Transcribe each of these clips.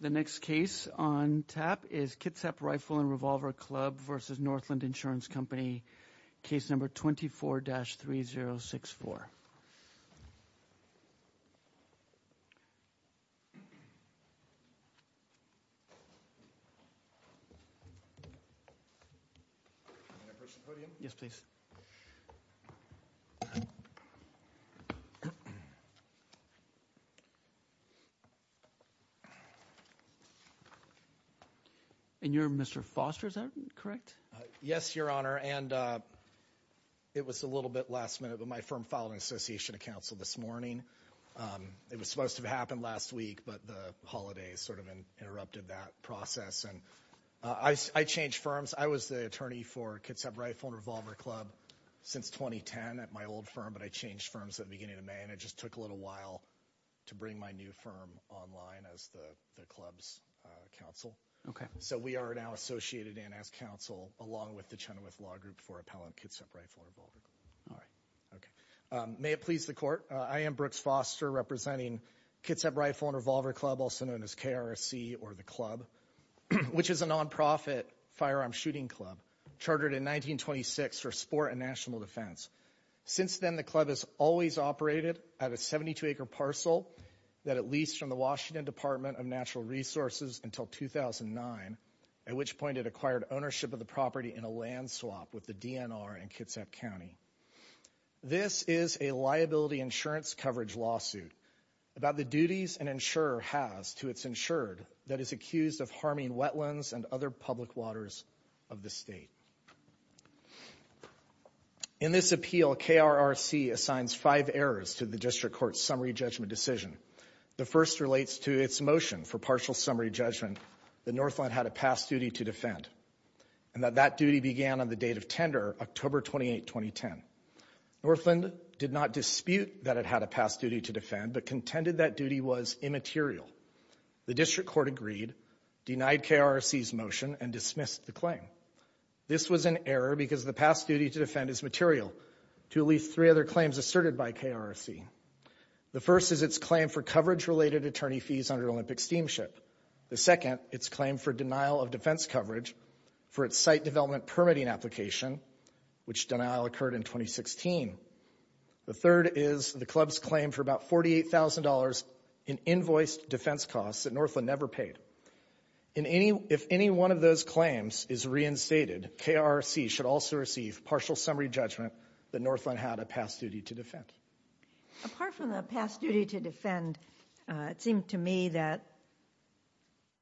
The next case on tap is Kitsap Rifle and Revolver Club versus Northland Insurance Company. Case number 24-3064. Can I press the podium? Yes, please. And you're Mr. Foster, is that correct? Yes, Your Honor. And it was a little bit last minute, but my firm filed an association of counsel this morning. It was supposed to have happened last week, but the holidays sort of interrupted that process. And I changed firms. I was the attorney for Kitsap Rifle and Revolver Club since 2010 at my old firm, but I changed firms at the beginning of May. And it just took a little while to bring my new firm online as the club's counsel. So we are now associated in as counsel along with the Chenoweth Law Group for appellant Kitsap Rifle and Revolver Club. All right. Okay. May it please the court, I am Brooks Foster representing Kitsap Rifle and Revolver Club, also known as KRSC or the club, which is a nonprofit firearm shooting club chartered in 1926 for sport and national defense. Since then, the club has always operated at a 72-acre parcel that it leased from the Washington Department of Natural Resources until 2009, at which point it acquired ownership of the property in a land swap with the DNR in Kitsap County. This is a liability insurance coverage lawsuit about the duties an insurer has to its insured that is accused of harming wetlands and other public waters of the state. In this appeal, KRSC assigns five errors to the district court's summary judgment decision. The first relates to its motion for partial summary judgment that Northland had a past duty to defend and that that duty began on the date of tender, October 28, 2010. Northland did not dispute that it had a past duty to defend, but contended that duty was immaterial. The district court agreed, denied KRSC's motion, and dismissed the claim. This was an error because the past duty to defend is material to at least three other claims asserted by KRSC. The first is its claim for coverage-related attorney fees under Olympic Steamship. The second, its claim for denial of defense coverage for its site development permitting application, which denial occurred in 2016. The third is the club's claim for about $48,000 in invoiced defense costs that Northland never paid. If any one of those claims is reinstated, KRSC should also receive partial summary judgment that Northland had a past duty to defend. Apart from the past duty to defend, it seemed to me that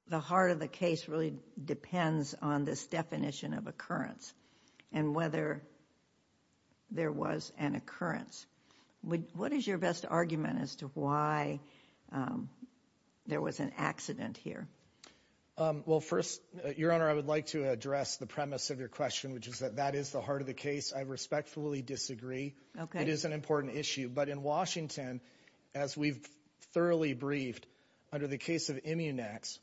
the heart of the case really depends on this definition of occurrence and whether there was an occurrence. What is your best argument as to why there was an accident here? Well, first, Your Honor, I would like to address the premise of your question, which is that that is the heart of the case. I respectfully disagree. It is an important issue. But in Washington, as we've thoroughly briefed, under the case of Immunex,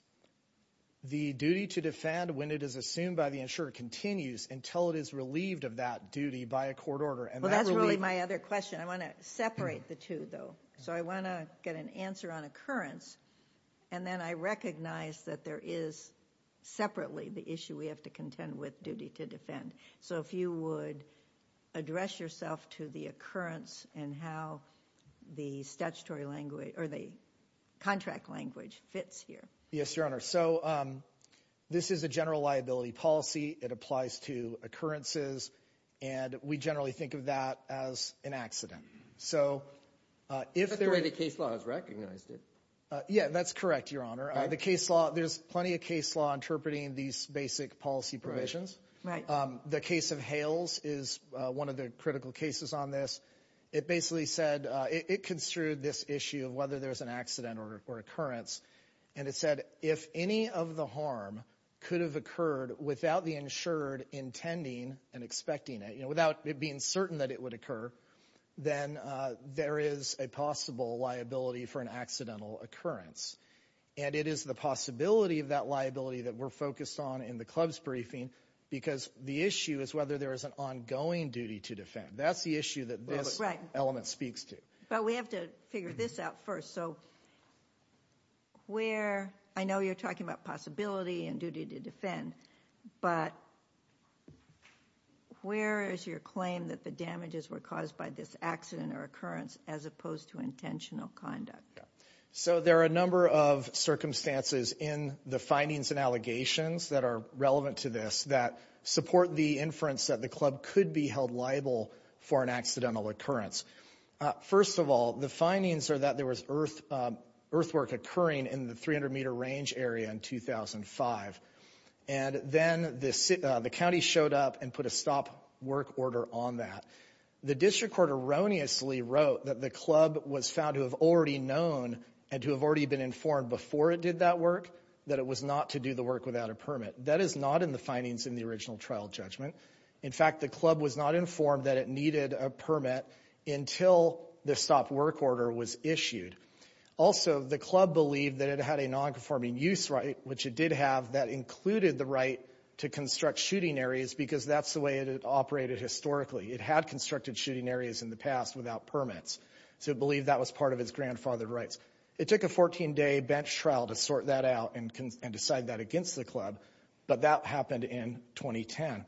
the duty to defend when it is assumed by the insurer continues until it is relieved of that duty by a court order. Well, that's really my other question. I want to separate the two, though. So I want to get an answer on occurrence. And then I recognize that there is separately the issue we have to contend with, duty to defend. So if you would address yourself to the occurrence and how the statutory language or the contract language fits here. Yes, Your Honor. So this is a general liability policy. It applies to occurrences. And we generally think of that as an accident. So if there were any case laws recognized it. Yeah, that's correct, Your Honor. The case law, there's plenty of case law interpreting these basic policy provisions. Right. The case of Hales is one of the critical cases on this. It basically said it construed this issue of whether there was an accident or occurrence. And it said if any of the harm could have occurred without the insured intending and expecting it, you know, without it being certain that it would occur, then there is a possible liability for an accidental occurrence. And it is the possibility of that liability that we're focused on in the club's briefing because the issue is whether there is an ongoing duty to defend. That's the issue that this element speaks to. But we have to figure this out first. So where – I know you're talking about possibility and duty to defend. But where is your claim that the damages were caused by this accident or occurrence as opposed to intentional conduct? So there are a number of circumstances in the findings and allegations that are relevant to this that support the inference that the club could be held liable for an accidental occurrence. First of all, the findings are that there was earthwork occurring in the 300-meter range area in 2005. And then the county showed up and put a stop work order on that. The district court erroneously wrote that the club was found to have already known and to have already been informed before it did that work that it was not to do the work without a permit. That is not in the findings in the original trial judgment. In fact, the club was not informed that it needed a permit until the stop work order was issued. Also, the club believed that it had a nonconforming use right, which it did have, that included the right to construct shooting areas because that's the way it had operated historically. It had constructed shooting areas in the past without permits. So it believed that was part of its grandfathered rights. It took a 14-day bench trial to sort that out and decide that against the club. But that happened in 2010.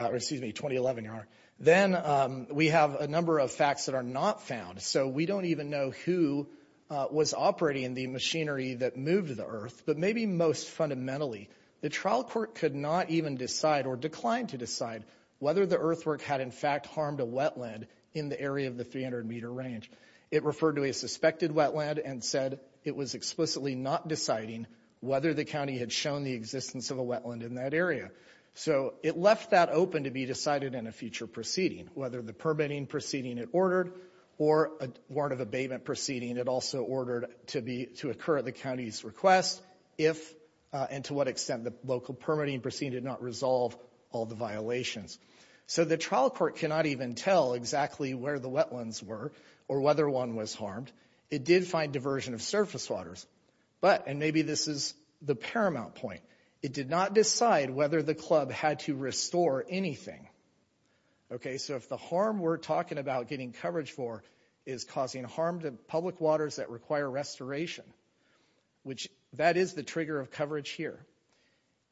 Excuse me, 2011, Your Honor. Then we have a number of facts that are not found. So we don't even know who was operating the machinery that moved the earth. But maybe most fundamentally, the trial court could not even decide or declined to decide whether the earthwork had in fact harmed a wetland in the area of the 300-meter range. It referred to a suspected wetland and said it was explicitly not deciding whether the county had shown the existence of a wetland in that area. So it left that open to be decided in a future proceeding, whether the permitting proceeding it ordered or a warrant of abatement proceeding it also ordered to occur at the county's request, if and to what extent the local permitting proceeding did not resolve all the violations. So the trial court cannot even tell exactly where the wetlands were or whether one was harmed. It did find diversion of surface waters. But, and maybe this is the paramount point, it did not decide whether the club had to restore anything. Okay, so if the harm we're talking about getting coverage for is causing harm to public waters that require restoration, which that is the trigger of coverage here,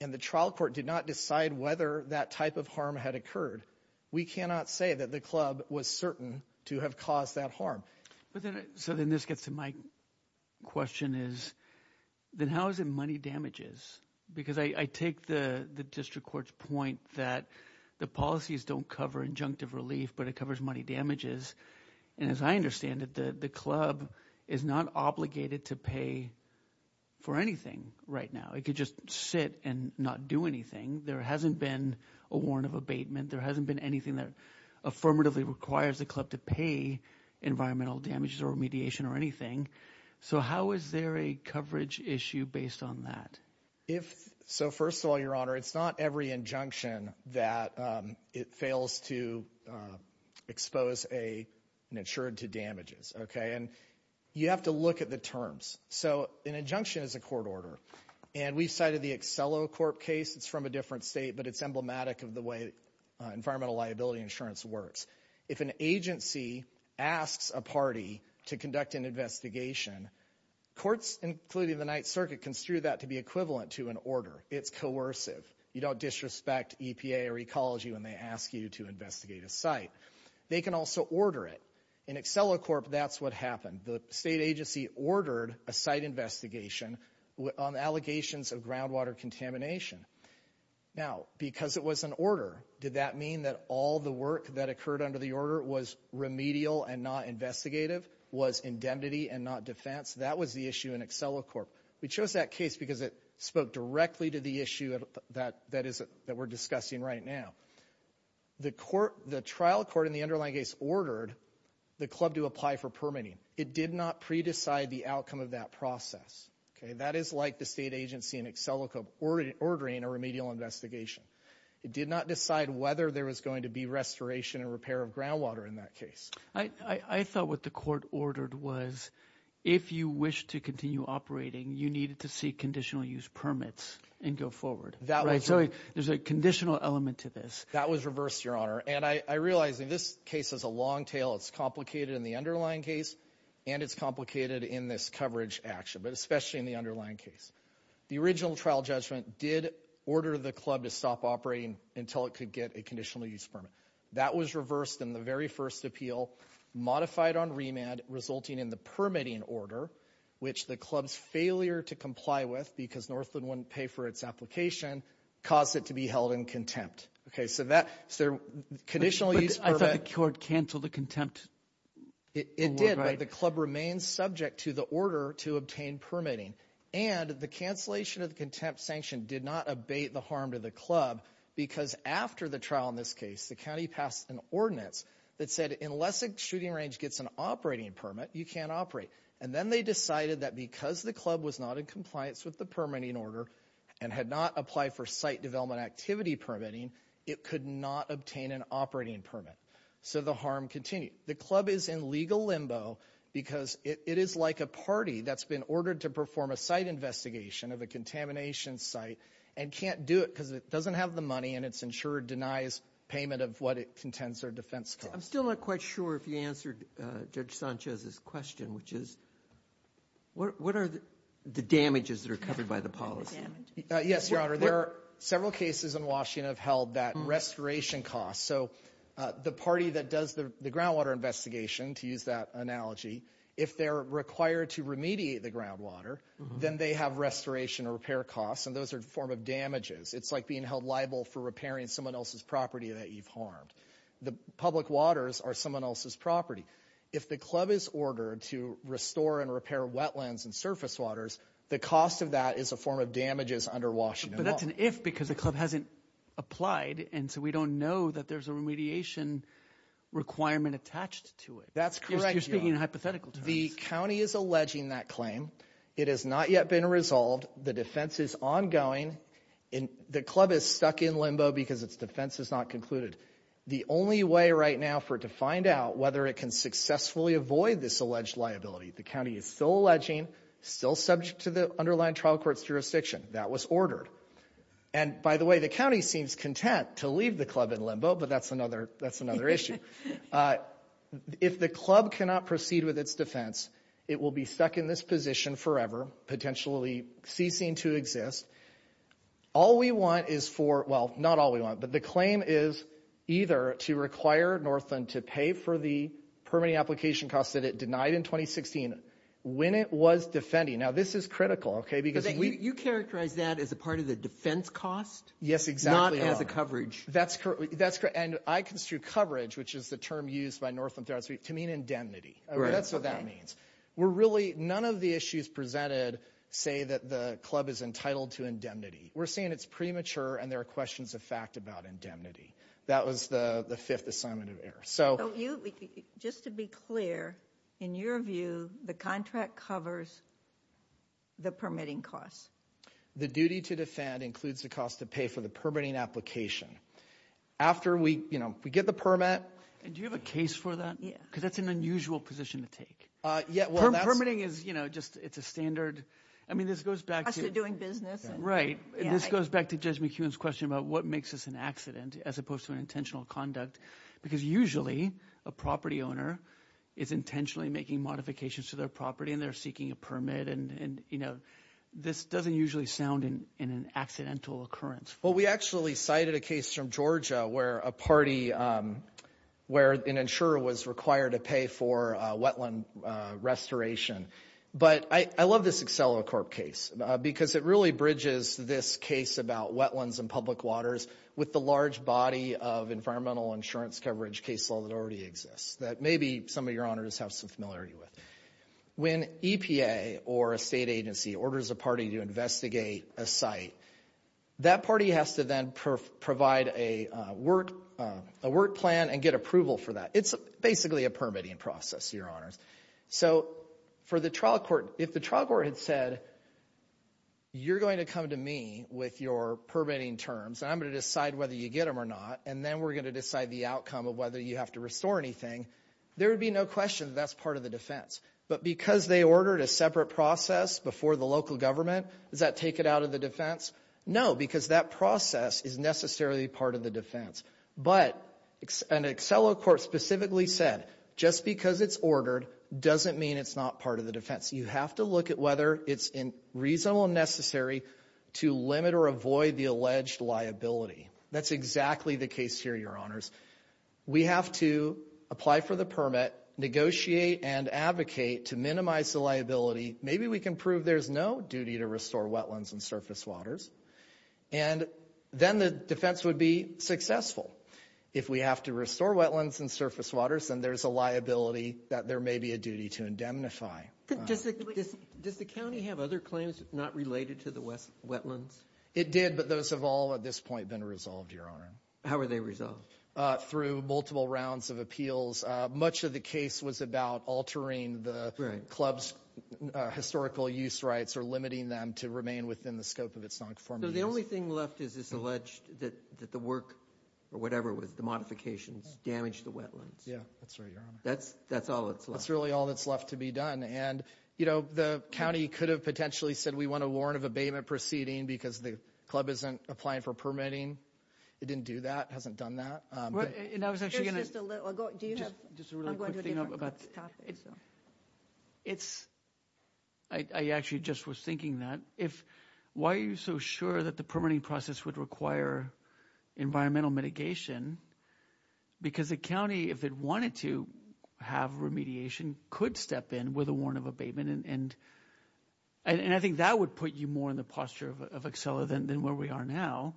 and the trial court did not decide whether that type of harm had occurred, we cannot say that the club was certain to have caused that harm. So then this gets to my question is then how is it money damages? Because I take the district court's point that the policies don't cover injunctive relief, but it covers money damages. And as I understand it, the club is not obligated to pay for anything right now. It could just sit and not do anything. There hasn't been a warrant of abatement. There hasn't been anything that affirmatively requires the club to pay environmental damages or mediation or anything. So how is there a coverage issue based on that? So first of all, Your Honor, it's not every injunction that it fails to expose an insured to damages. Okay, and you have to look at the terms. So an injunction is a court order, and we've cited the Accelo Corp case. It's from a different state, but it's emblematic of the way environmental liability insurance works. If an agency asks a party to conduct an investigation, courts, including the Ninth Circuit, construe that to be equivalent to an order. It's coercive. You don't disrespect EPA or ecology when they ask you to investigate a site. They can also order it. In Accelo Corp, that's what happened. The state agency ordered a site investigation on allegations of groundwater contamination. Now, because it was an order, did that mean that all the work that occurred under the order was remedial and not investigative, was indemnity and not defense? That was the issue in Accelo Corp. We chose that case because it spoke directly to the issue that we're discussing right now. The trial court in the underlying case ordered the club to apply for permitting. It did not pre-decide the outcome of that process. That is like the state agency in Accelo Corp ordering a remedial investigation. It did not decide whether there was going to be restoration and repair of groundwater in that case. I thought what the court ordered was if you wish to continue operating, you needed to seek conditional use permits and go forward. There's a conditional element to this. That was reversed, Your Honor. I realize this case has a long tail. It's complicated in the underlying case and it's complicated in this coverage action, but especially in the underlying case. The original trial judgment did order the club to stop operating until it could get a conditional use permit. That was reversed in the very first appeal, modified on remand, resulting in the permitting order, which the club's failure to comply with because Northland wouldn't pay for its application, caused it to be held in contempt. Okay, so that's their conditional use permit. I thought the court canceled the contempt. It did, but the club remained subject to the order to obtain permitting. And the cancellation of the contempt sanction did not abate the harm to the club because after the trial in this case, the county passed an ordinance that said unless a shooting range gets an operating permit, you can't operate. And then they decided that because the club was not in compliance with the permitting order and had not applied for site development activity permitting, it could not obtain an operating permit. So the harm continued. The club is in legal limbo because it is like a party that's been ordered to perform a site investigation of a contamination site and can't do it because it doesn't have the money and its insurer denies payment of what it contends their defense costs. I'm still not quite sure if you answered Judge Sanchez's question, which is what are the damages that are covered by the policy? Yes, Your Honor. There are several cases in Washington that have held that restoration cost. So the party that does the groundwater investigation, to use that analogy, if they're required to remediate the groundwater, then they have restoration or repair costs, and those are a form of damages. It's like being held liable for repairing someone else's property that you've harmed. The public waters are someone else's property. If the club is ordered to restore and repair wetlands and surface waters, the cost of that is a form of damages under Washington law. But that's an if because the club hasn't applied, and so we don't know that there's a remediation requirement attached to it. That's correct, Your Honor. You're speaking in hypothetical terms. The county is alleging that claim. It has not yet been resolved. The defense is ongoing. The club is stuck in limbo because its defense is not concluded. The only way right now for it to find out whether it can successfully avoid this alleged liability, the county is still alleging, still subject to the underlying trial court's jurisdiction. That was ordered. And, by the way, the county seems content to leave the club in limbo, but that's another issue. If the club cannot proceed with its defense, it will be stuck in this position forever, potentially ceasing to exist. All we want is for – well, not all we want, but the claim is either to require Northland to pay for the permitting application costs that it denied in 2016 when it was defending. Now, this is critical, okay, because we – You characterize that as a part of the defense cost? Yes, exactly. Not as a coverage. That's correct. And I construe coverage, which is the term used by Northland to mean indemnity. Right. That's what that means. We're really – none of the issues presented say that the club is entitled to indemnity. We're saying it's premature and there are questions of fact about indemnity. That was the fifth assignment of error. So you – just to be clear, in your view, the contract covers the permitting costs? The duty to defend includes the cost to pay for the permitting application. After we get the permit – And do you have a case for that? Yeah. Because that's an unusual position to take. Yeah, well, that's – Permitting is just – it's a standard – I mean, this goes back to – Plus you're doing business. Right. This goes back to Judge McEwen's question about what makes this an accident as opposed to an intentional conduct because usually a property owner is intentionally making modifications to their property and they're seeking a permit. And this doesn't usually sound in an accidental occurrence. Well, we actually cited a case from Georgia where a party – where an insurer was required to pay for a wetland restoration. But I love this AcceloCorp case because it really bridges this case about wetlands and public waters with the large body of environmental insurance coverage case law that already exists that maybe some of your honors have some familiarity with. When EPA or a state agency orders a party to investigate a site, that party has to then provide a work plan and get approval for that. It's basically a permitting process, your honors. So for the trial court, if the trial court had said, you're going to come to me with your permitting terms and I'm going to decide whether you get them or not, and then we're going to decide the outcome of whether you have to restore anything, there would be no question that that's part of the defense. But because they ordered a separate process before the local government, does that take it out of the defense? No, because that process is necessarily part of the defense. But an AcceloCorp specifically said, just because it's ordered doesn't mean it's not part of the defense. You have to look at whether it's reasonable and necessary to limit or avoid the alleged liability. That's exactly the case here, your honors. We have to apply for the permit, negotiate and advocate to minimize the liability. Maybe we can prove there's no duty to restore wetlands and surface waters. And then the defense would be successful. If we have to restore wetlands and surface waters, then there's a liability that there may be a duty to indemnify. Does the county have other claims not related to the wetlands? It did, but those have all at this point been resolved, your honor. How were they resolved? Through multiple rounds of appeals. Much of the case was about altering the club's historical use rights or limiting them to remain within the scope of its non-conforming use. So the only thing left is this alleged that the work or whatever it was, the modifications, damaged the wetlands. Yeah, that's right, your honor. That's all that's left. That's really all that's left to be done. And, you know, the county could have potentially said we want a warrant of abatement proceeding because the club isn't applying for permitting. It didn't do that. It hasn't done that. And I was actually going to. Do you have. Just a really quick thing about. It's. I actually just was thinking that if. Why are you so sure that the permitting process would require environmental mitigation? Because the county, if it wanted to have remediation, could step in with a warrant of abatement. And I think that would put you more in the posture of Excel than where we are now.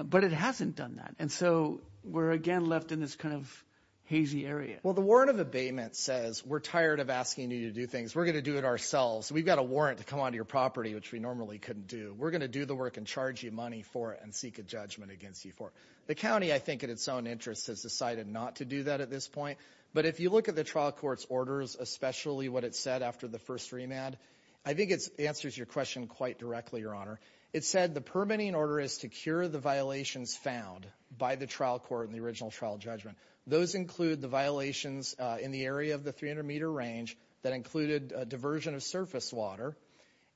But it hasn't done that. And so we're again left in this kind of hazy area. Well, the word of abatement says we're tired of asking you to do things. We're going to do it ourselves. We've got a warrant to come onto your property, which we normally couldn't do. We're going to do the work and charge you money for it and seek a judgment against you for the county. I think in its own interest has decided not to do that at this point. But if you look at the trial court's orders, especially what it said after the first remand, I think it answers your question quite directly. Your honor. It said the permitting order is to cure the violations found by the trial court in the original trial judgment. Those include the violations in the area of the 300-meter range that included diversion of surface water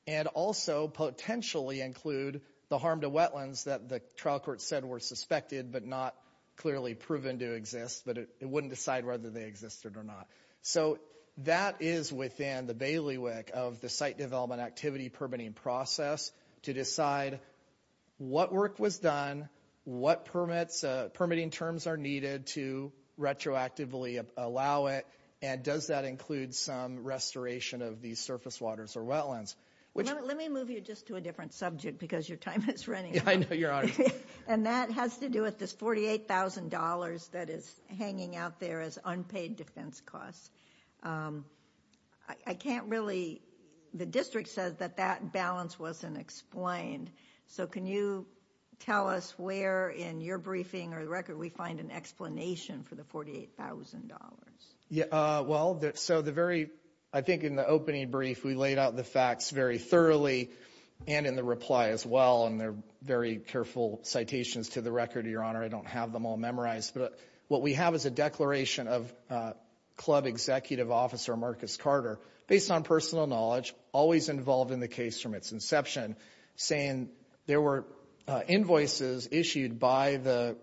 and also potentially include the harm to wetlands that the trial court said were suspected but not clearly proven to exist, but it wouldn't decide whether they existed or not. So that is within the bailiwick of the site development activity permitting process to decide what work was done, what permitting terms are needed to retroactively allow it, and does that include some restoration of these surface waters or wetlands. Let me move you just to a different subject because your time is running out. I know, your honor. And that has to do with this $48,000 that is hanging out there as unpaid defense costs. I can't really, the district says that that balance wasn't explained. So can you tell us where in your briefing or the record we find an explanation for the $48,000? Well, so the very, I think in the opening brief we laid out the facts very thoroughly and in the reply as well, and there are very careful citations to the record, your honor. I don't have them all memorized, but what we have is a declaration of club executive officer Marcus Carter, based on personal knowledge, always involved in the case from its inception, saying there were invoices issued by the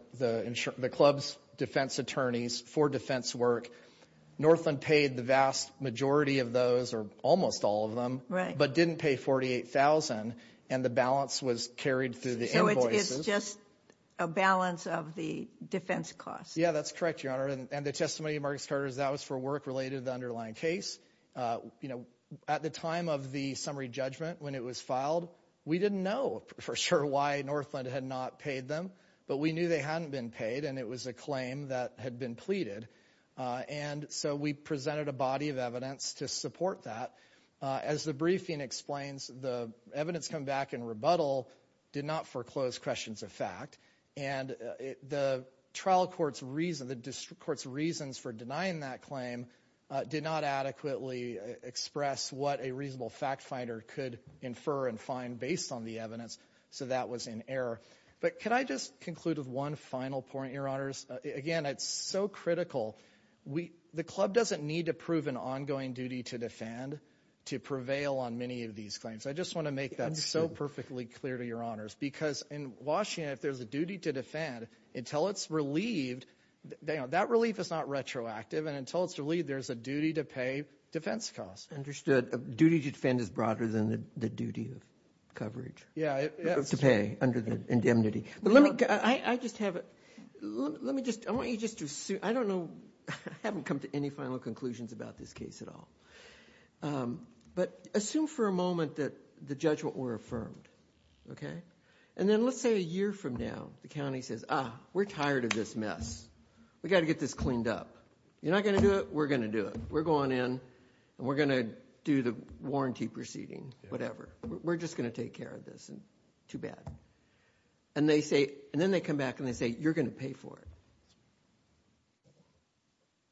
club's defense attorneys for defense work. Northland paid the vast majority of those or almost all of them, but didn't pay $48,000, and the balance was carried through the invoices. So it's just a balance of the defense costs. Yeah, that's correct, your honor. And the testimony of Marcus Carter is that was for work related to the underlying case. You know, at the time of the summary judgment when it was filed, we didn't know for sure why Northland had not paid them, but we knew they hadn't been paid and it was a claim that had been pleaded. And so we presented a body of evidence to support that. As the briefing explains, the evidence come back in rebuttal did not foreclose questions of fact, and the trial court's reasons for denying that claim did not adequately express what a reasonable fact finder could infer and find based on the evidence, so that was in error. But can I just conclude with one final point, your honors? Again, it's so critical. The club doesn't need to prove an ongoing duty to defend to prevail on many of these claims. I just want to make that so perfectly clear to your honors, because in Washington, if there's a duty to defend, until it's relieved, that relief is not retroactive, and until it's relieved, there's a duty to pay defense costs. Understood. Duty to defend is broader than the duty of coverage to pay under the indemnity. I just have a – let me just – I want you just to – I don't know – I haven't come to any final conclusions about this case at all. But assume for a moment that the judgment were affirmed, okay? And then let's say a year from now the county says, ah, we're tired of this mess. We've got to get this cleaned up. You're not going to do it? We're going to do it. We're going in and we're going to do the warranty proceeding, whatever. We're just going to take care of this. Too bad. And they say – and then they come back and they say, you're going to pay for it.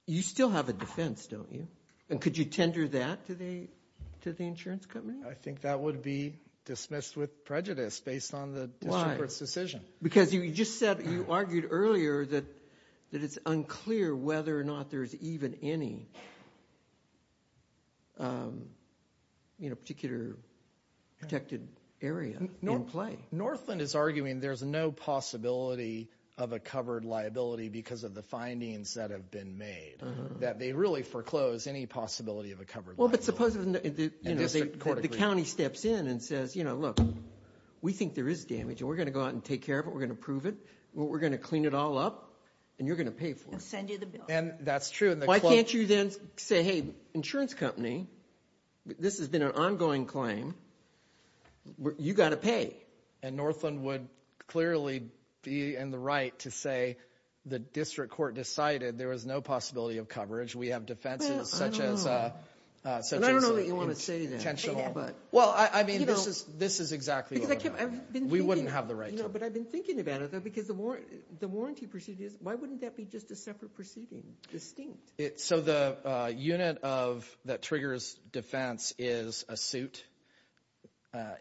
You still have a defense, don't you? And could you tender that to the insurance company? I think that would be dismissed with prejudice based on the district court's decision. Why? Because you just said – you argued earlier that it's unclear whether or not there's even any particular protected area in play. Northland is arguing there's no possibility of a covered liability because of the findings that have been made. That they really foreclose any possibility of a covered liability. Well, but suppose the county steps in and says, you know, look, we think there is damage. We're going to go out and take care of it. We're going to prove it. We're going to clean it all up and you're going to pay for it. And send you the bill. And that's true. Why can't you then say, hey, insurance company, this has been an ongoing claim. You've got to pay. And Northland would clearly be in the right to say the district court decided there was no possibility of coverage. We have defenses such as – Well, I don't know. I don't know what you want to say there. Well, I mean, this is exactly what I'm – Because I've been thinking – We wouldn't have the right to. No, but I've been thinking about it, though, because the warranty proceeding is – why wouldn't that be just a separate proceeding, distinct? So the unit that triggers defense is a suit.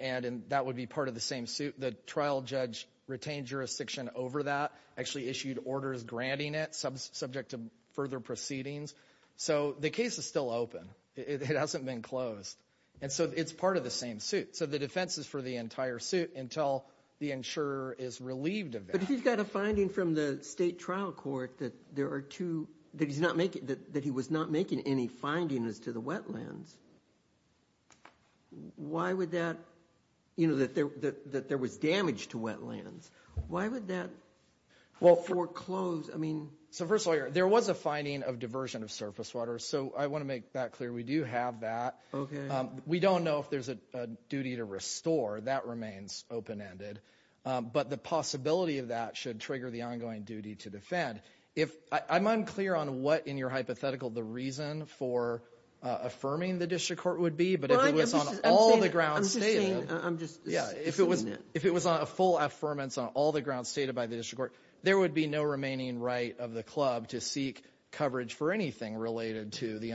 And that would be part of the same suit. The trial judge retained jurisdiction over that, actually issued orders granting it, subject to further proceedings. So the case is still open. It hasn't been closed. And so it's part of the same suit. So the defense is for the entire suit until the insurer is relieved of that. But if he's got a finding from the state trial court that there are two – that he's not making – that he was not making any findings to the wetlands, why would that – you know, that there was damage to wetlands. Why would that foreclose – I mean – So, first of all, there was a finding of diversion of surface water. So I want to make that clear. We do have that. Okay. We don't know if there's a duty to restore. That remains open-ended. But the possibility of that should trigger the ongoing duty to defend. If – I'm unclear on what in your hypothetical the reason for affirming the district court would be. But if it was on all the grounds stated – I'm just saying – I'm just – Yeah. If it was a full affirmance on all the grounds stated by the district court, there would be no remaining right of the club to seek coverage for anything related to the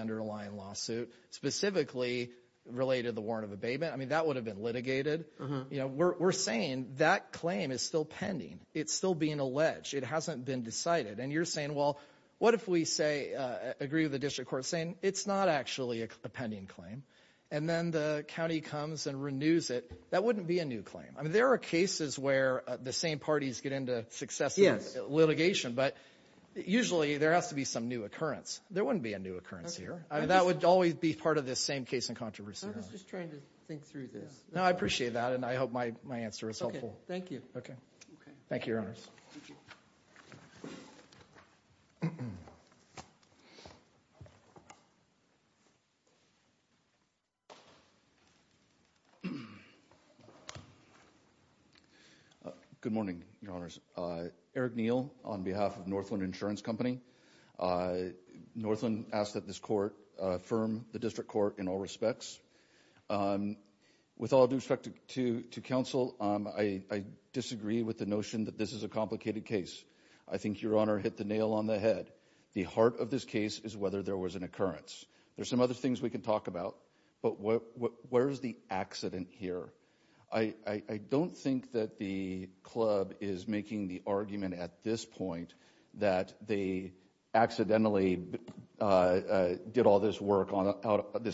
specifically related to the warrant of abatement. I mean, that would have been litigated. You know, we're saying that claim is still pending. It's still being alleged. It hasn't been decided. And you're saying, well, what if we say – agree with the district court saying, it's not actually a pending claim. And then the county comes and renews it. That wouldn't be a new claim. I mean, there are cases where the same parties get into successive litigation. But usually there has to be some new occurrence. There wouldn't be a new occurrence here. I mean, that would always be part of this same case in controversy. I was just trying to think through this. No, I appreciate that. And I hope my answer is helpful. Okay. Thank you. Okay. Thank you, Your Honors. Good morning, Your Honors. Eric Neal on behalf of Northland Insurance Company. Northland asked that this court affirm the district court in all respects. With all due respect to counsel, I disagree with the notion that this is a complicated case. I think Your Honor hit the nail on the head. The heart of this case is whether there was an occurrence. There's some other things we can talk about. But where is the accident here? I don't think that the club is making the argument at this point that they accidentally did all this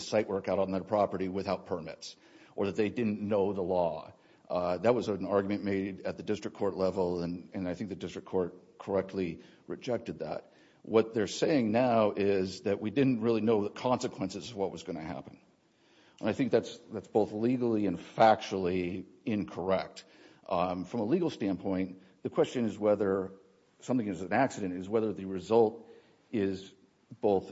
site work out on their property without permits or that they didn't know the law. That was an argument made at the district court level, and I think the district court correctly rejected that. What they're saying now is that we didn't really know the consequences of what was going to happen. And I think that's both legally and factually incorrect. From a legal standpoint, the question is whether something is an accident, is whether the result is both,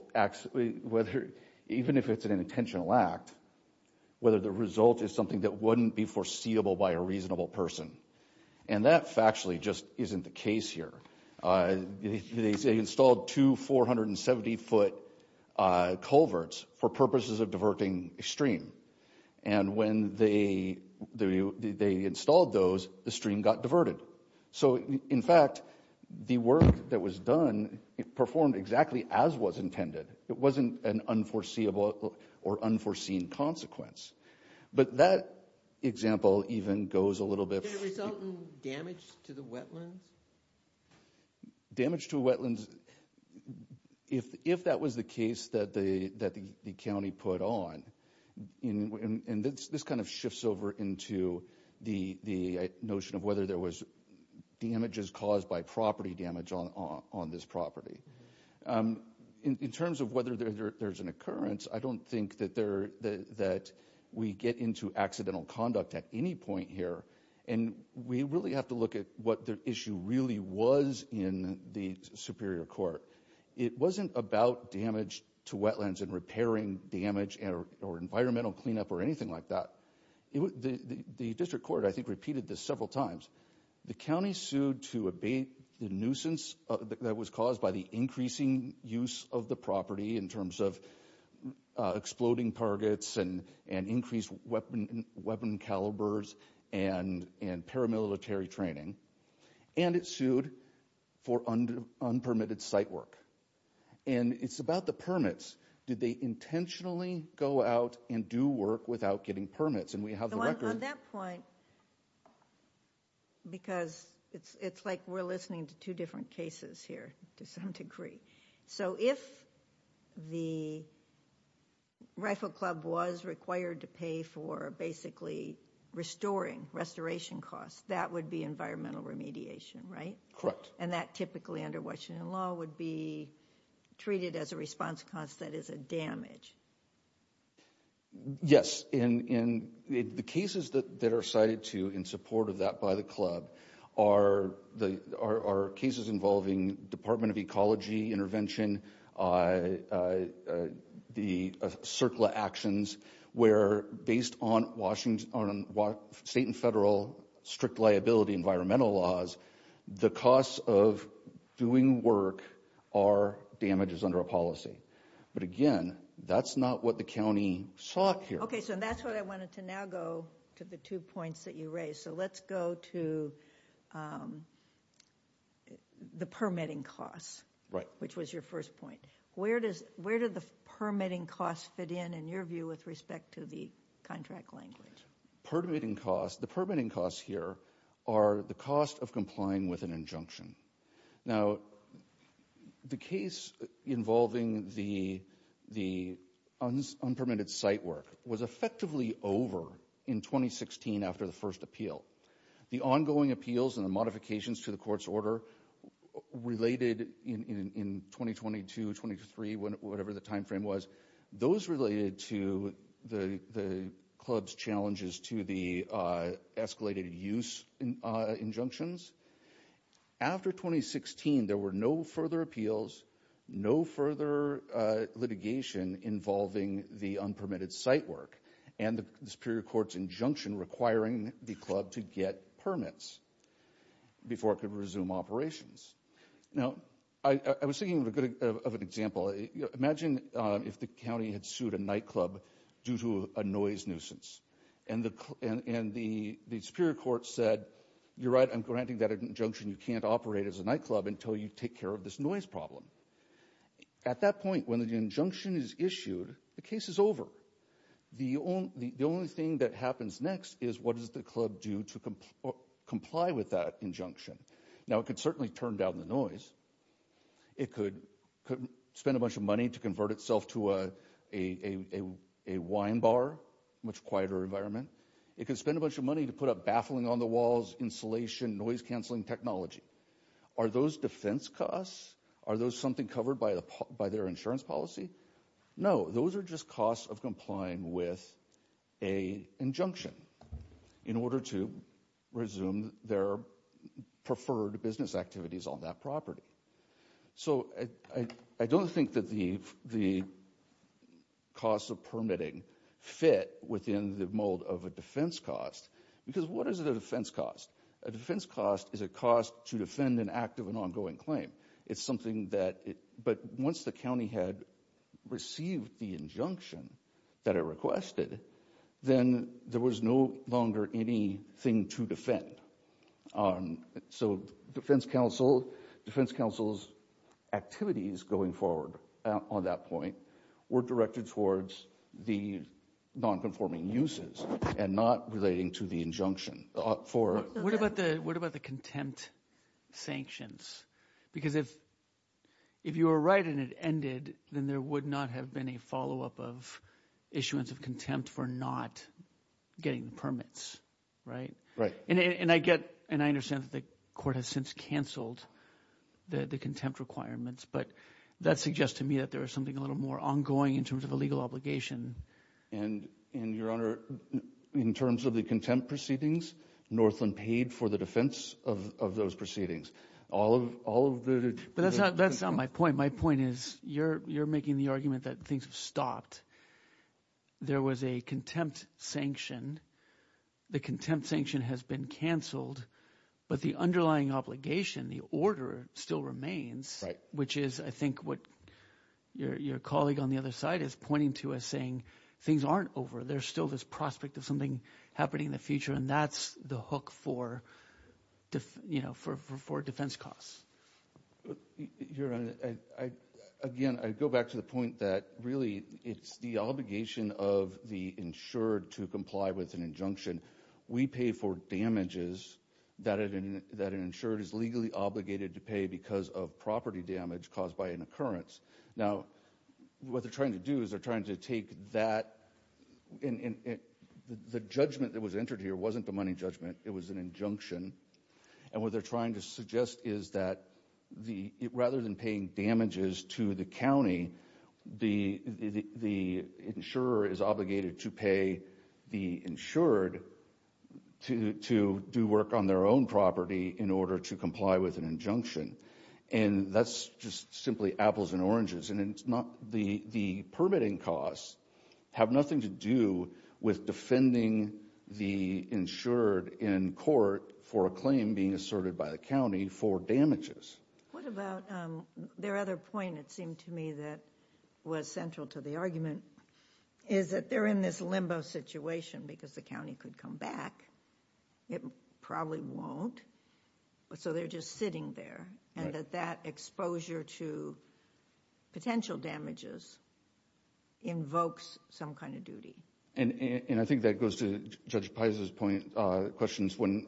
even if it's an intentional act, whether the result is something that wouldn't be foreseeable by a reasonable person. And that factually just isn't the case here. They installed two 470-foot culverts for purposes of diverting a stream. And when they installed those, the stream got diverted. So, in fact, the work that was done performed exactly as was intended. It wasn't an unforeseeable or unforeseen consequence. But that example even goes a little bit further. Was the mountain damaged to the wetlands? Damage to wetlands, if that was the case that the county put on, and this kind of shifts over into the notion of whether there was damages caused by property damage on this property. In terms of whether there's an occurrence, I don't think that we get into accidental conduct at any point here. And we really have to look at what the issue really was in the superior court. It wasn't about damage to wetlands and repairing damage or environmental cleanup or anything like that. The district court, I think, repeated this several times. The county sued to abate the nuisance that was caused by the increasing use of the property in terms of exploding targets and increased weapon calibers and paramilitary training. And it sued for unpermitted site work. And it's about the permits. Did they intentionally go out and do work without getting permits? And we have the record. On that point, because it's like we're listening to two different cases here to some degree. So if the Rifle Club was required to pay for basically restoring, restoration costs, that would be environmental remediation, right? Correct. And that typically under Washington law would be treated as a response cost that is a damage. Yes. The cases that are cited in support of that by the club are cases involving Department of Ecology intervention, the CERCLA actions, where based on state and federal strict liability environmental laws, the costs of doing work are damages under a policy. But again, that's not what the county sought here. Okay. So that's what I wanted to now go to the two points that you raised. So let's go to the permitting costs. Right. Which was your first point. Where do the permitting costs fit in, in your view, with respect to the contract language? Permitting costs, the permitting costs here are the cost of complying with an injunction. Now, the case involving the unpermitted site work was effectively over in 2016 after the first appeal. The ongoing appeals and the modifications to the court's order related in 2022, 23, whatever the time frame was, those related to the club's challenges to the escalated use injunctions. After 2016, there were no further appeals, no further litigation involving the unpermitted site work and the Superior Court's injunction requiring the club to get permits before it could resume operations. Now, I was thinking of an example. Imagine if the county had sued a nightclub due to a noise nuisance and the Superior Court said, you're right, I'm granting that injunction, you can't operate as a nightclub until you take care of this noise problem. At that point, when the injunction is issued, the case is over. The only thing that happens next is what does the club do to comply with that injunction. Now, it could certainly turn down the noise. It could spend a bunch of money to convert itself to a wine bar, much quieter environment. It could spend a bunch of money to put up baffling on the walls, insulation, noise-canceling technology. Are those defense costs? Are those something covered by their insurance policy? No, those are just costs of complying with an injunction in order to resume their preferred business activities on that property. So, I don't think that the costs of permitting fit within the mold of a defense cost. Because what is a defense cost? A defense cost is a cost to defend an active and ongoing claim. It's something that, but once the county had received the injunction that it requested, then there was no longer anything to defend. So, defense counsel's activities going forward on that point were directed towards the nonconforming uses and not relating to the injunction. What about the contempt sanctions? Because if you were right and it ended, then there would not have been a follow-up of issuance of contempt for not getting the permits. Right? Right. And I get and I understand that the court has since canceled the contempt requirements. But that suggests to me that there is something a little more ongoing in terms of a legal obligation. And, Your Honor, in terms of the contempt proceedings, Northland paid for the defense of those proceedings. All of the – But that's not my point. My point is you're making the argument that things have stopped. There was a contempt sanction. The contempt sanction has been canceled. But the underlying obligation, the order, still remains, which is, I think, what your colleague on the other side is pointing to as saying things aren't over. There's still this prospect of something happening in the future, and that's the hook for defense costs. Your Honor, again, I go back to the point that really it's the obligation of the insured to comply with an injunction. We pay for damages that an insured is legally obligated to pay because of property damage caused by an occurrence. Now, what they're trying to do is they're trying to take that – the judgment that was entered here wasn't the money judgment. It was an injunction. And what they're trying to suggest is that rather than paying damages to the county, the insurer is obligated to pay the insured to do work on their own property in order to comply with an injunction. And that's just simply apples and oranges. And it's not – the permitting costs have nothing to do with defending the insured in court for a claim being asserted by the county for damages. What about their other point, it seemed to me, that was central to the argument, is that they're in this limbo situation because the county could come back. It probably won't. So they're just sitting there and that that exposure to potential damages invokes some kind of duty. And I think that goes to Judge Paisa's point – questions when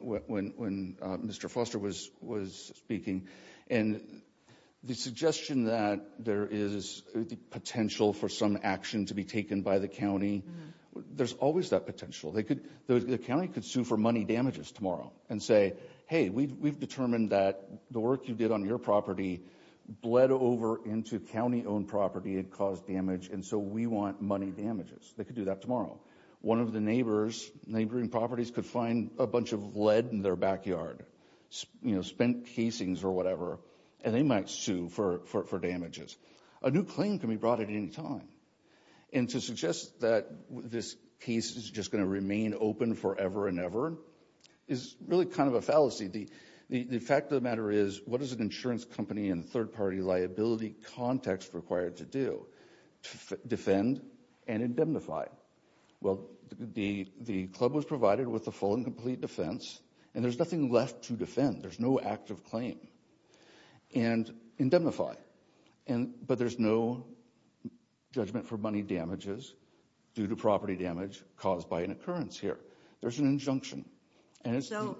Mr. Foster was speaking. And the suggestion that there is the potential for some action to be taken by the county, there's always that potential. The county could sue for money damages tomorrow and say, hey, we've determined that the work you did on your property bled over into county-owned property and caused damage, and so we want money damages. They could do that tomorrow. One of the neighboring properties could find a bunch of lead in their backyard, spent casings or whatever, and they might sue for damages. A new claim can be brought at any time. And to suggest that this case is just going to remain open forever and ever is really kind of a fallacy. The fact of the matter is, what is an insurance company and third-party liability context required to do? Defend and indemnify. Well, the club was provided with the full and complete defense, and there's nothing left to defend. There's no active claim. And indemnify. But there's no judgment for money damages due to property damage caused by an occurrence here. There's an injunction.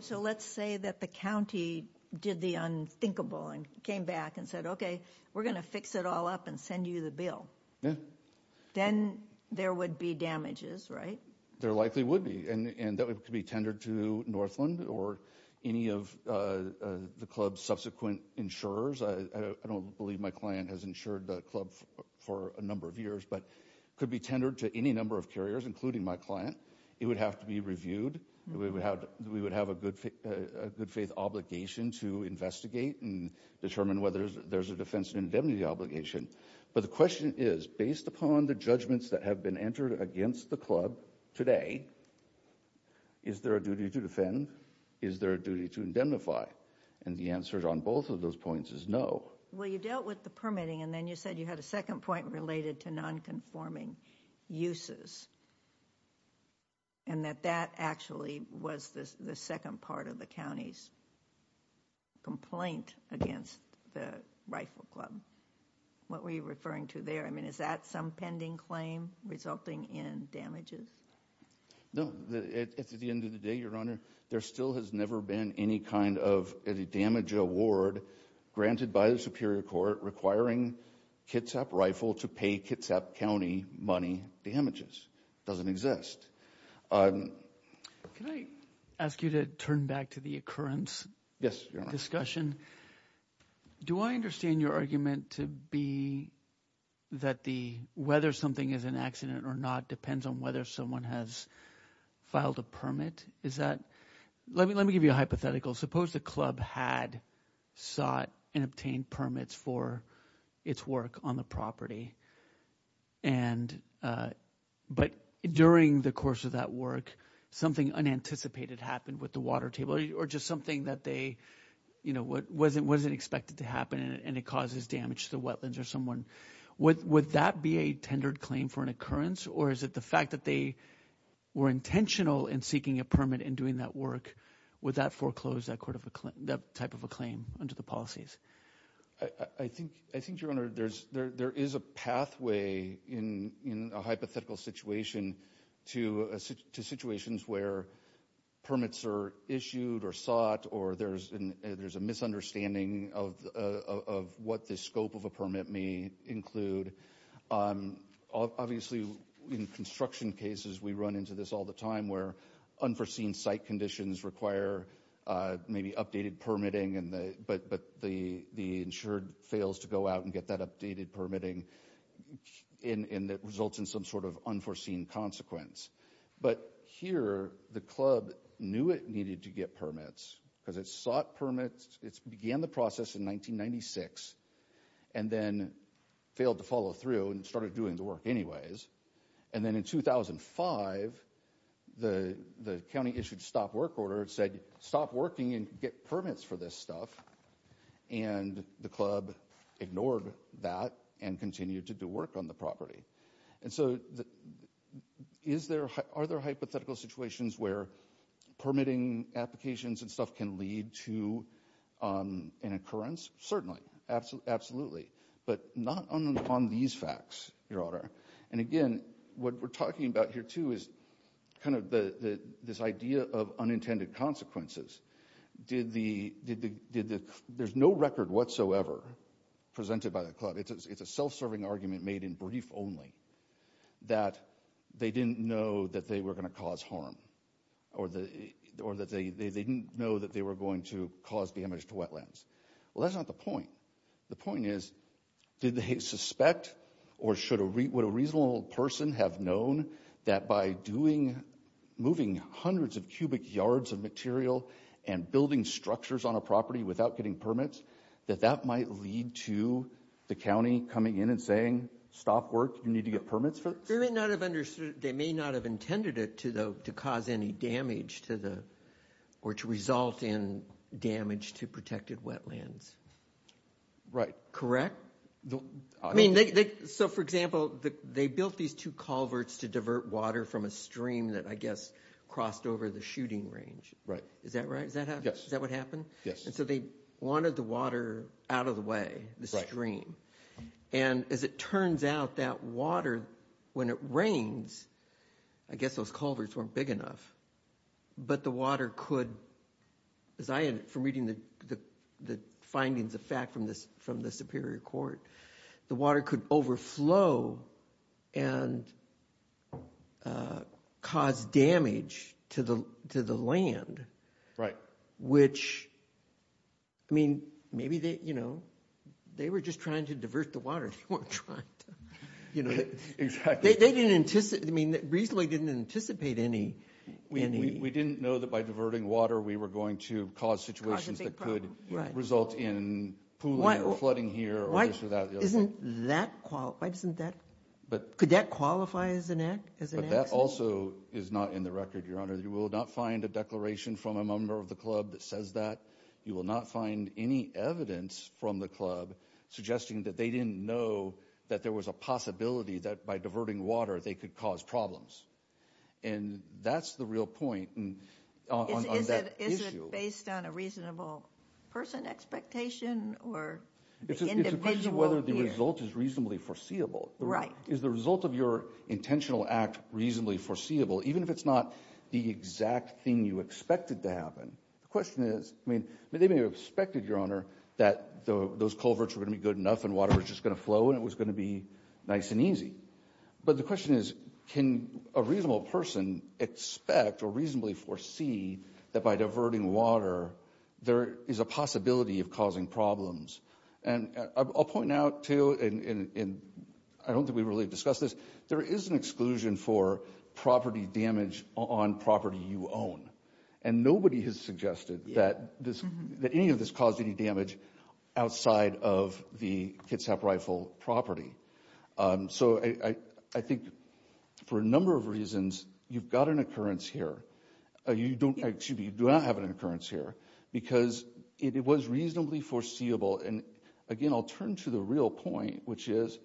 So let's say that the county did the unthinkable and came back and said, okay, we're going to fix it all up and send you the bill. Yeah. Then there would be damages, right? There likely would be. And that could be tendered to Northland or any of the club's subsequent insurers. I don't believe my client has insured the club for a number of years, but it could be tendered to any number of carriers, including my client. It would have to be reviewed. We would have a good-faith obligation to investigate and determine whether there's a defense and indemnity obligation. But the question is, based upon the judgments that have been entered against the club today, is there a duty to defend? Is there a duty to indemnify? And the answer on both of those points is no. Well, you dealt with the permitting, and then you said you had a second point related to nonconforming uses. And that that actually was the second part of the county's complaint against the Rifle Club. What were you referring to there? I mean, is that some pending claim resulting in damages? No. At the end of the day, Your Honor, there still has never been any kind of damage award granted by the Superior Court requiring Kitsap Rifle to pay Kitsap County money damages. It doesn't exist. Can I ask you to turn back to the occurrence discussion? Yes, Your Honor. Do I understand your argument to be that the whether something is an accident or not depends on whether someone has filed a permit? Is that – let me give you a hypothetical. Suppose the club had sought and obtained permits for its work on the property, and – but during the course of that work, something unanticipated happened with the water table or just something that they – you know, wasn't expected to happen, and it causes damage to the wetlands or someone. Would that be a tendered claim for an occurrence, or is it the fact that they were intentional in seeking a permit and doing that work? Would that foreclose that type of a claim under the policies? I think, Your Honor, there is a pathway in a hypothetical situation to situations where permits are issued or sought or there's a misunderstanding of what the scope of a permit may include. Obviously, in construction cases, we run into this all the time where unforeseen site conditions require maybe updated permitting, but the insured fails to go out and get that updated permitting, and that results in some sort of unforeseen consequence. But here, the club knew it needed to get permits because it sought permits. It began the process in 1996 and then failed to follow through and started doing the work anyways. And then in 2005, the county issued a stop work order. It said, stop working and get permits for this stuff, and the club ignored that and continued to do work on the property. And so are there hypothetical situations where permitting applications and stuff can lead to an occurrence? Certainly. Absolutely. But not on these facts, Your Honor. And again, what we're talking about here, too, is kind of this idea of unintended consequences. There's no record whatsoever presented by the club. It's a self-serving argument made in brief only that they didn't know that they were going to cause harm or that they didn't know that they were going to cause damage to wetlands. Well, that's not the point. The point is, did they suspect or would a reasonable person have known that by moving hundreds of cubic yards of material and building structures on a property without getting permits, that that might lead to the county coming in and saying, stop work, you need to get permits for this? They may not have intended it to cause any damage or to result in damage to protected wetlands. Right. Correct? I mean, so for example, they built these two culverts to divert water from a stream that I guess crossed over the shooting range. Right. Is that right? Is that what happened? Yes. And so they wanted the water out of the way, the stream. And as it turns out, that water, when it rains, I guess those culverts weren't big enough. But the water could, as I am from reading the findings of fact from the Superior Court, the water could overflow and cause damage to the land. Right. Which, I mean, maybe they, you know, they were just trying to divert the water. They weren't trying to, you know. Exactly. They didn't anticipate, I mean, reasonably didn't anticipate any. We didn't know that by diverting water we were going to cause situations that could result in pooling or flooding here or this or that. Isn't that, why doesn't that, could that qualify as an accident? That also is not in the record, Your Honor. You will not find a declaration from a member of the club that says that. You will not find any evidence from the club suggesting that they didn't know that there was a possibility that by diverting water they could cause problems. And that's the real point on that issue. Is it based on a reasonable person expectation or individual? It's a question of whether the result is reasonably foreseeable. Right. Is the result of your intentional act reasonably foreseeable, even if it's not the exact thing you expected to happen? The question is, I mean, they may have expected, Your Honor, that those culverts were going to be good enough and water was just going to flow and it was going to be nice and easy. But the question is, can a reasonable person expect or reasonably foresee that by diverting water there is a possibility of causing problems? And I'll point out, too, and I don't think we've really discussed this, there is an exclusion for property damage on property you own. And nobody has suggested that any of this caused any damage outside of the Kitsap Rifle property. So I think for a number of reasons, you've got an occurrence here. You don't have an occurrence here because it was reasonably foreseeable. And again, I'll turn to the real point, which is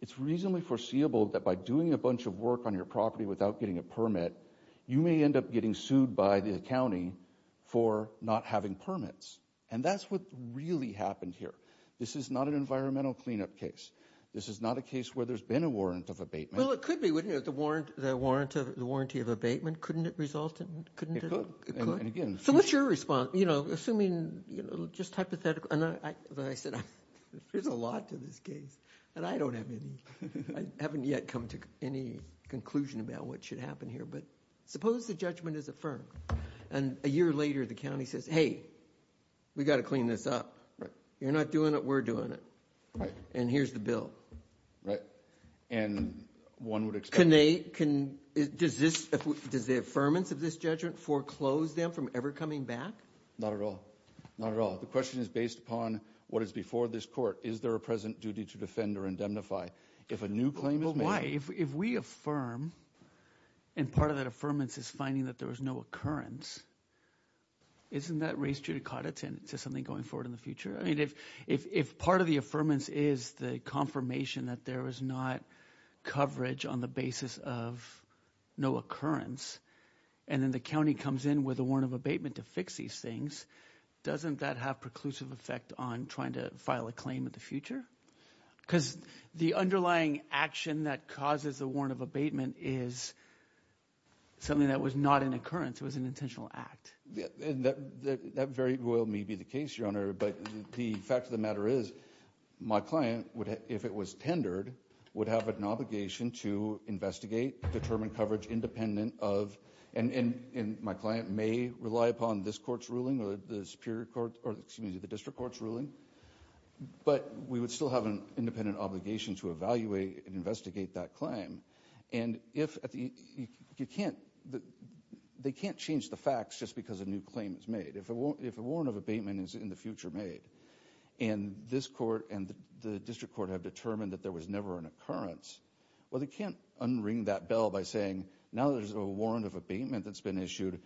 it's reasonably foreseeable that by doing a bunch of work on your property without getting a permit, you may end up getting sued by the county for not having permits. And that's what really happened here. This is not an environmental cleanup case. This is not a case where there's been a warrant of abatement. Well, it could be, wouldn't it? The warranty of abatement. Couldn't it result in – It could. So what's your response? You know, assuming, you know, just hypothetical. And I said, there's a lot to this case. And I don't have any – I haven't yet come to any conclusion about what should happen here. But suppose the judgment is affirmed and a year later the county says, hey, we've got to clean this up. You're not doing it. We're doing it. Right. And here's the bill. Right. And one would expect – Can they – does this – does the affirmance of this judgment foreclose them from ever coming back? Not at all. Not at all. The question is based upon what is before this court. Is there a present duty to defend or indemnify? If a new claim is made – But why? If we affirm and part of that affirmance is finding that there was no occurrence, isn't that race judicata to something going forward in the future? I mean, if part of the affirmance is the confirmation that there was not coverage on the basis of no occurrence and then the county comes in with a warrant of abatement to fix these things, doesn't that have preclusive effect on trying to file a claim in the future? Because the underlying action that causes the warrant of abatement is something that was not an occurrence. It was an intentional act. That very well may be the case, Your Honor, but the fact of the matter is my client, if it was tendered, would have an obligation to investigate, determine coverage independent of – and my client may rely upon this court's ruling or the district court's ruling, but we would still have an independent obligation to evaluate and investigate that claim. And if you can't – they can't change the facts just because a new claim is made. If a warrant of abatement is in the future made and this court and the district court have determined that there was never an occurrence, well, they can't unring that bell by saying now there's a warrant of abatement that's been issued.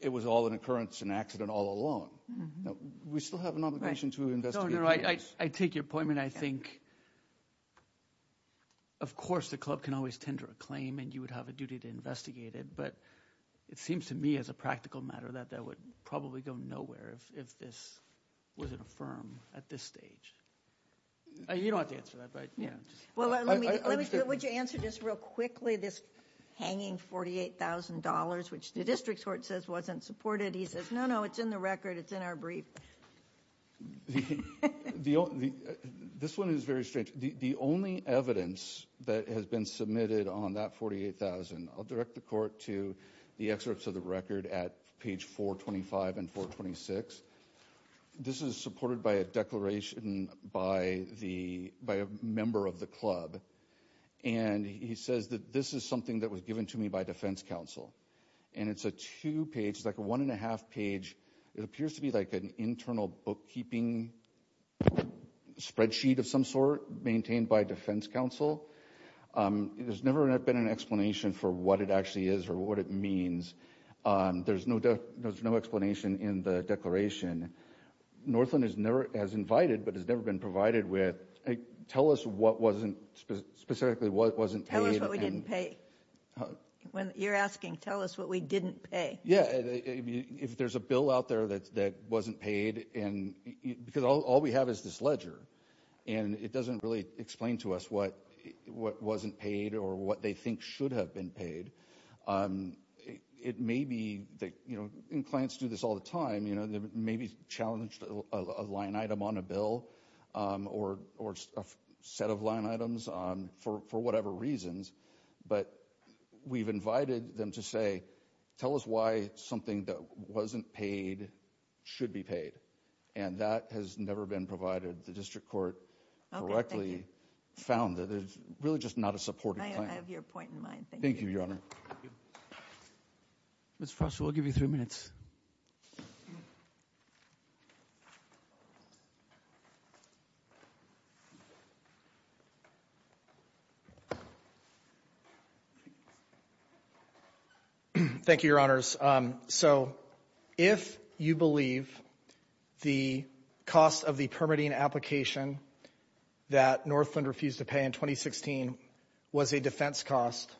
It was all an occurrence, an accident all along. We still have an obligation to investigate. I take your point, and I think, of course, the club can always tender a claim and you would have a duty to investigate it, but it seems to me as a practical matter that that would probably go nowhere if this wasn't affirmed at this stage. You don't have to answer that, but – Well, let me – would you answer just real quickly this hanging $48,000, which the district court says wasn't supported. He says, no, no, it's in the record, it's in our brief. This one is very strange. The only evidence that has been submitted on that $48,000 – I'll direct the court to the excerpts of the record at page 425 and 426. This is supported by a declaration by a member of the club, and he says that this is something that was given to me by defense counsel, and it's a two-page – it's like a one-and-a-half page. It appears to be like an internal bookkeeping spreadsheet of some sort maintained by defense counsel. There's never been an explanation for what it actually is or what it means. There's no explanation in the declaration. Northland has never – has invited but has never been provided with. Tell us what wasn't – specifically what wasn't paid. Tell us what we didn't pay. When you're asking, tell us what we didn't pay. Yeah, if there's a bill out there that wasn't paid and – because all we have is this ledger, and it doesn't really explain to us what wasn't paid or what they think should have been paid. It may be that – and clients do this all the time. They may be challenged a line item on a bill or a set of line items for whatever reasons, but we've invited them to say, tell us why something that wasn't paid should be paid. And that has never been provided. The district court correctly found that it's really just not a supportive plan. I have your point in mind. Thank you. Thank you, Your Honor. Ms. Foster, we'll give you three minutes. Thank you, Your Honors. So if you believe the cost of the permitting application that Northland refused to pay in 2016 was a defense cost,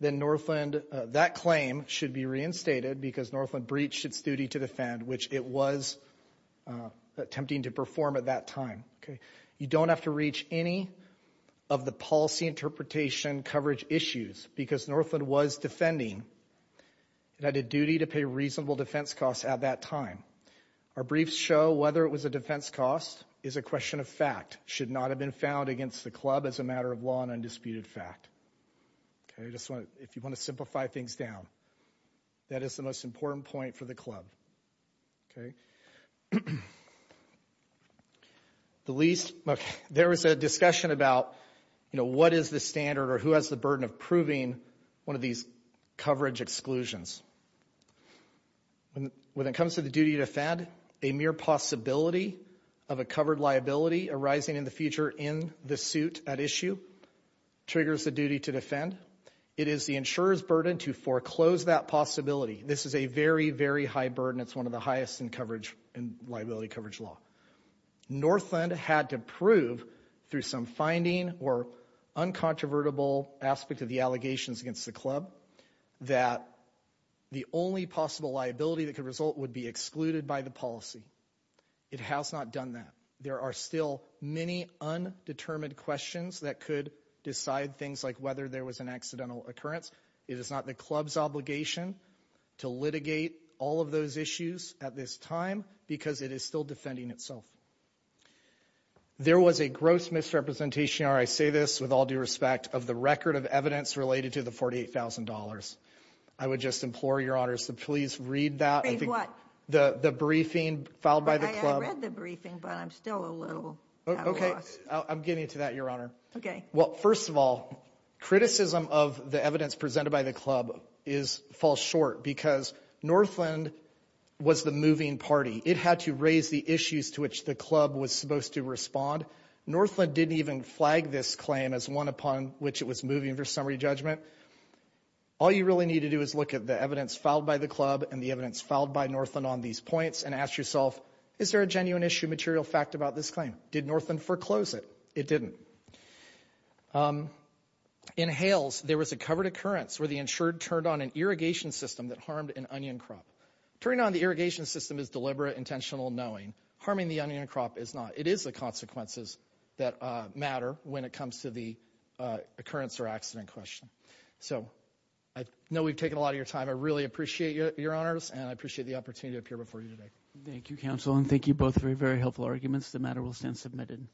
then Northland – that claim should be reinstated because Northland breached its duty to defend, which it was attempting to perform at that time. You don't have to reach any of the policy interpretation coverage issues because Northland was defending. It had a duty to pay reasonable defense costs at that time. Our briefs show whether it was a defense cost is a question of fact, should not have been found against the club as a matter of law and undisputed fact. If you want to simplify things down, that is the most important point for the club. Okay. The least – there was a discussion about, you know, what is the standard or who has the burden of proving one of these coverage exclusions. When it comes to the duty to defend, a mere possibility of a covered liability arising in the future in the suit at issue triggers the duty to defend. It is the insurer's burden to foreclose that possibility. This is a very, very high burden. It's one of the highest in liability coverage law. Northland had to prove through some finding or uncontrovertible aspect of the allegations against the club that the only possible liability that could result would be excluded by the policy. It has not done that. There are still many undetermined questions that could decide things like whether there was an accidental occurrence. It is not the club's obligation to litigate all of those issues at this time because it is still defending itself. There was a gross misrepresentation, Your Honor, I say this with all due respect, of the record of evidence related to the $48,000. I would just implore, Your Honor, to please read that. Read what? The briefing filed by the club. I read the briefing, but I'm still a little at a loss. Okay. I'm getting to that, Your Honor. Okay. Well, first of all, criticism of the evidence presented by the club falls short because Northland was the moving party. It had to raise the issues to which the club was supposed to respond. Northland didn't even flag this claim as one upon which it was moving for summary judgment. All you really need to do is look at the evidence filed by the club and the evidence filed by Northland on these points and ask yourself, is there a genuine issue material fact about this claim? Did Northland foreclose it? It didn't. In Hales, there was a covered occurrence where the insured turned on an irrigation system that harmed an onion crop. Turning on the irrigation system is deliberate, intentional knowing. Harming the onion crop is not. It is the consequences that matter when it comes to the occurrence or accident question. So I know we've taken a lot of your time. I really appreciate your honors, and I appreciate the opportunity to appear before you today. Thank you, counsel, and thank you both for your very helpful arguments. The matter will stand submitted.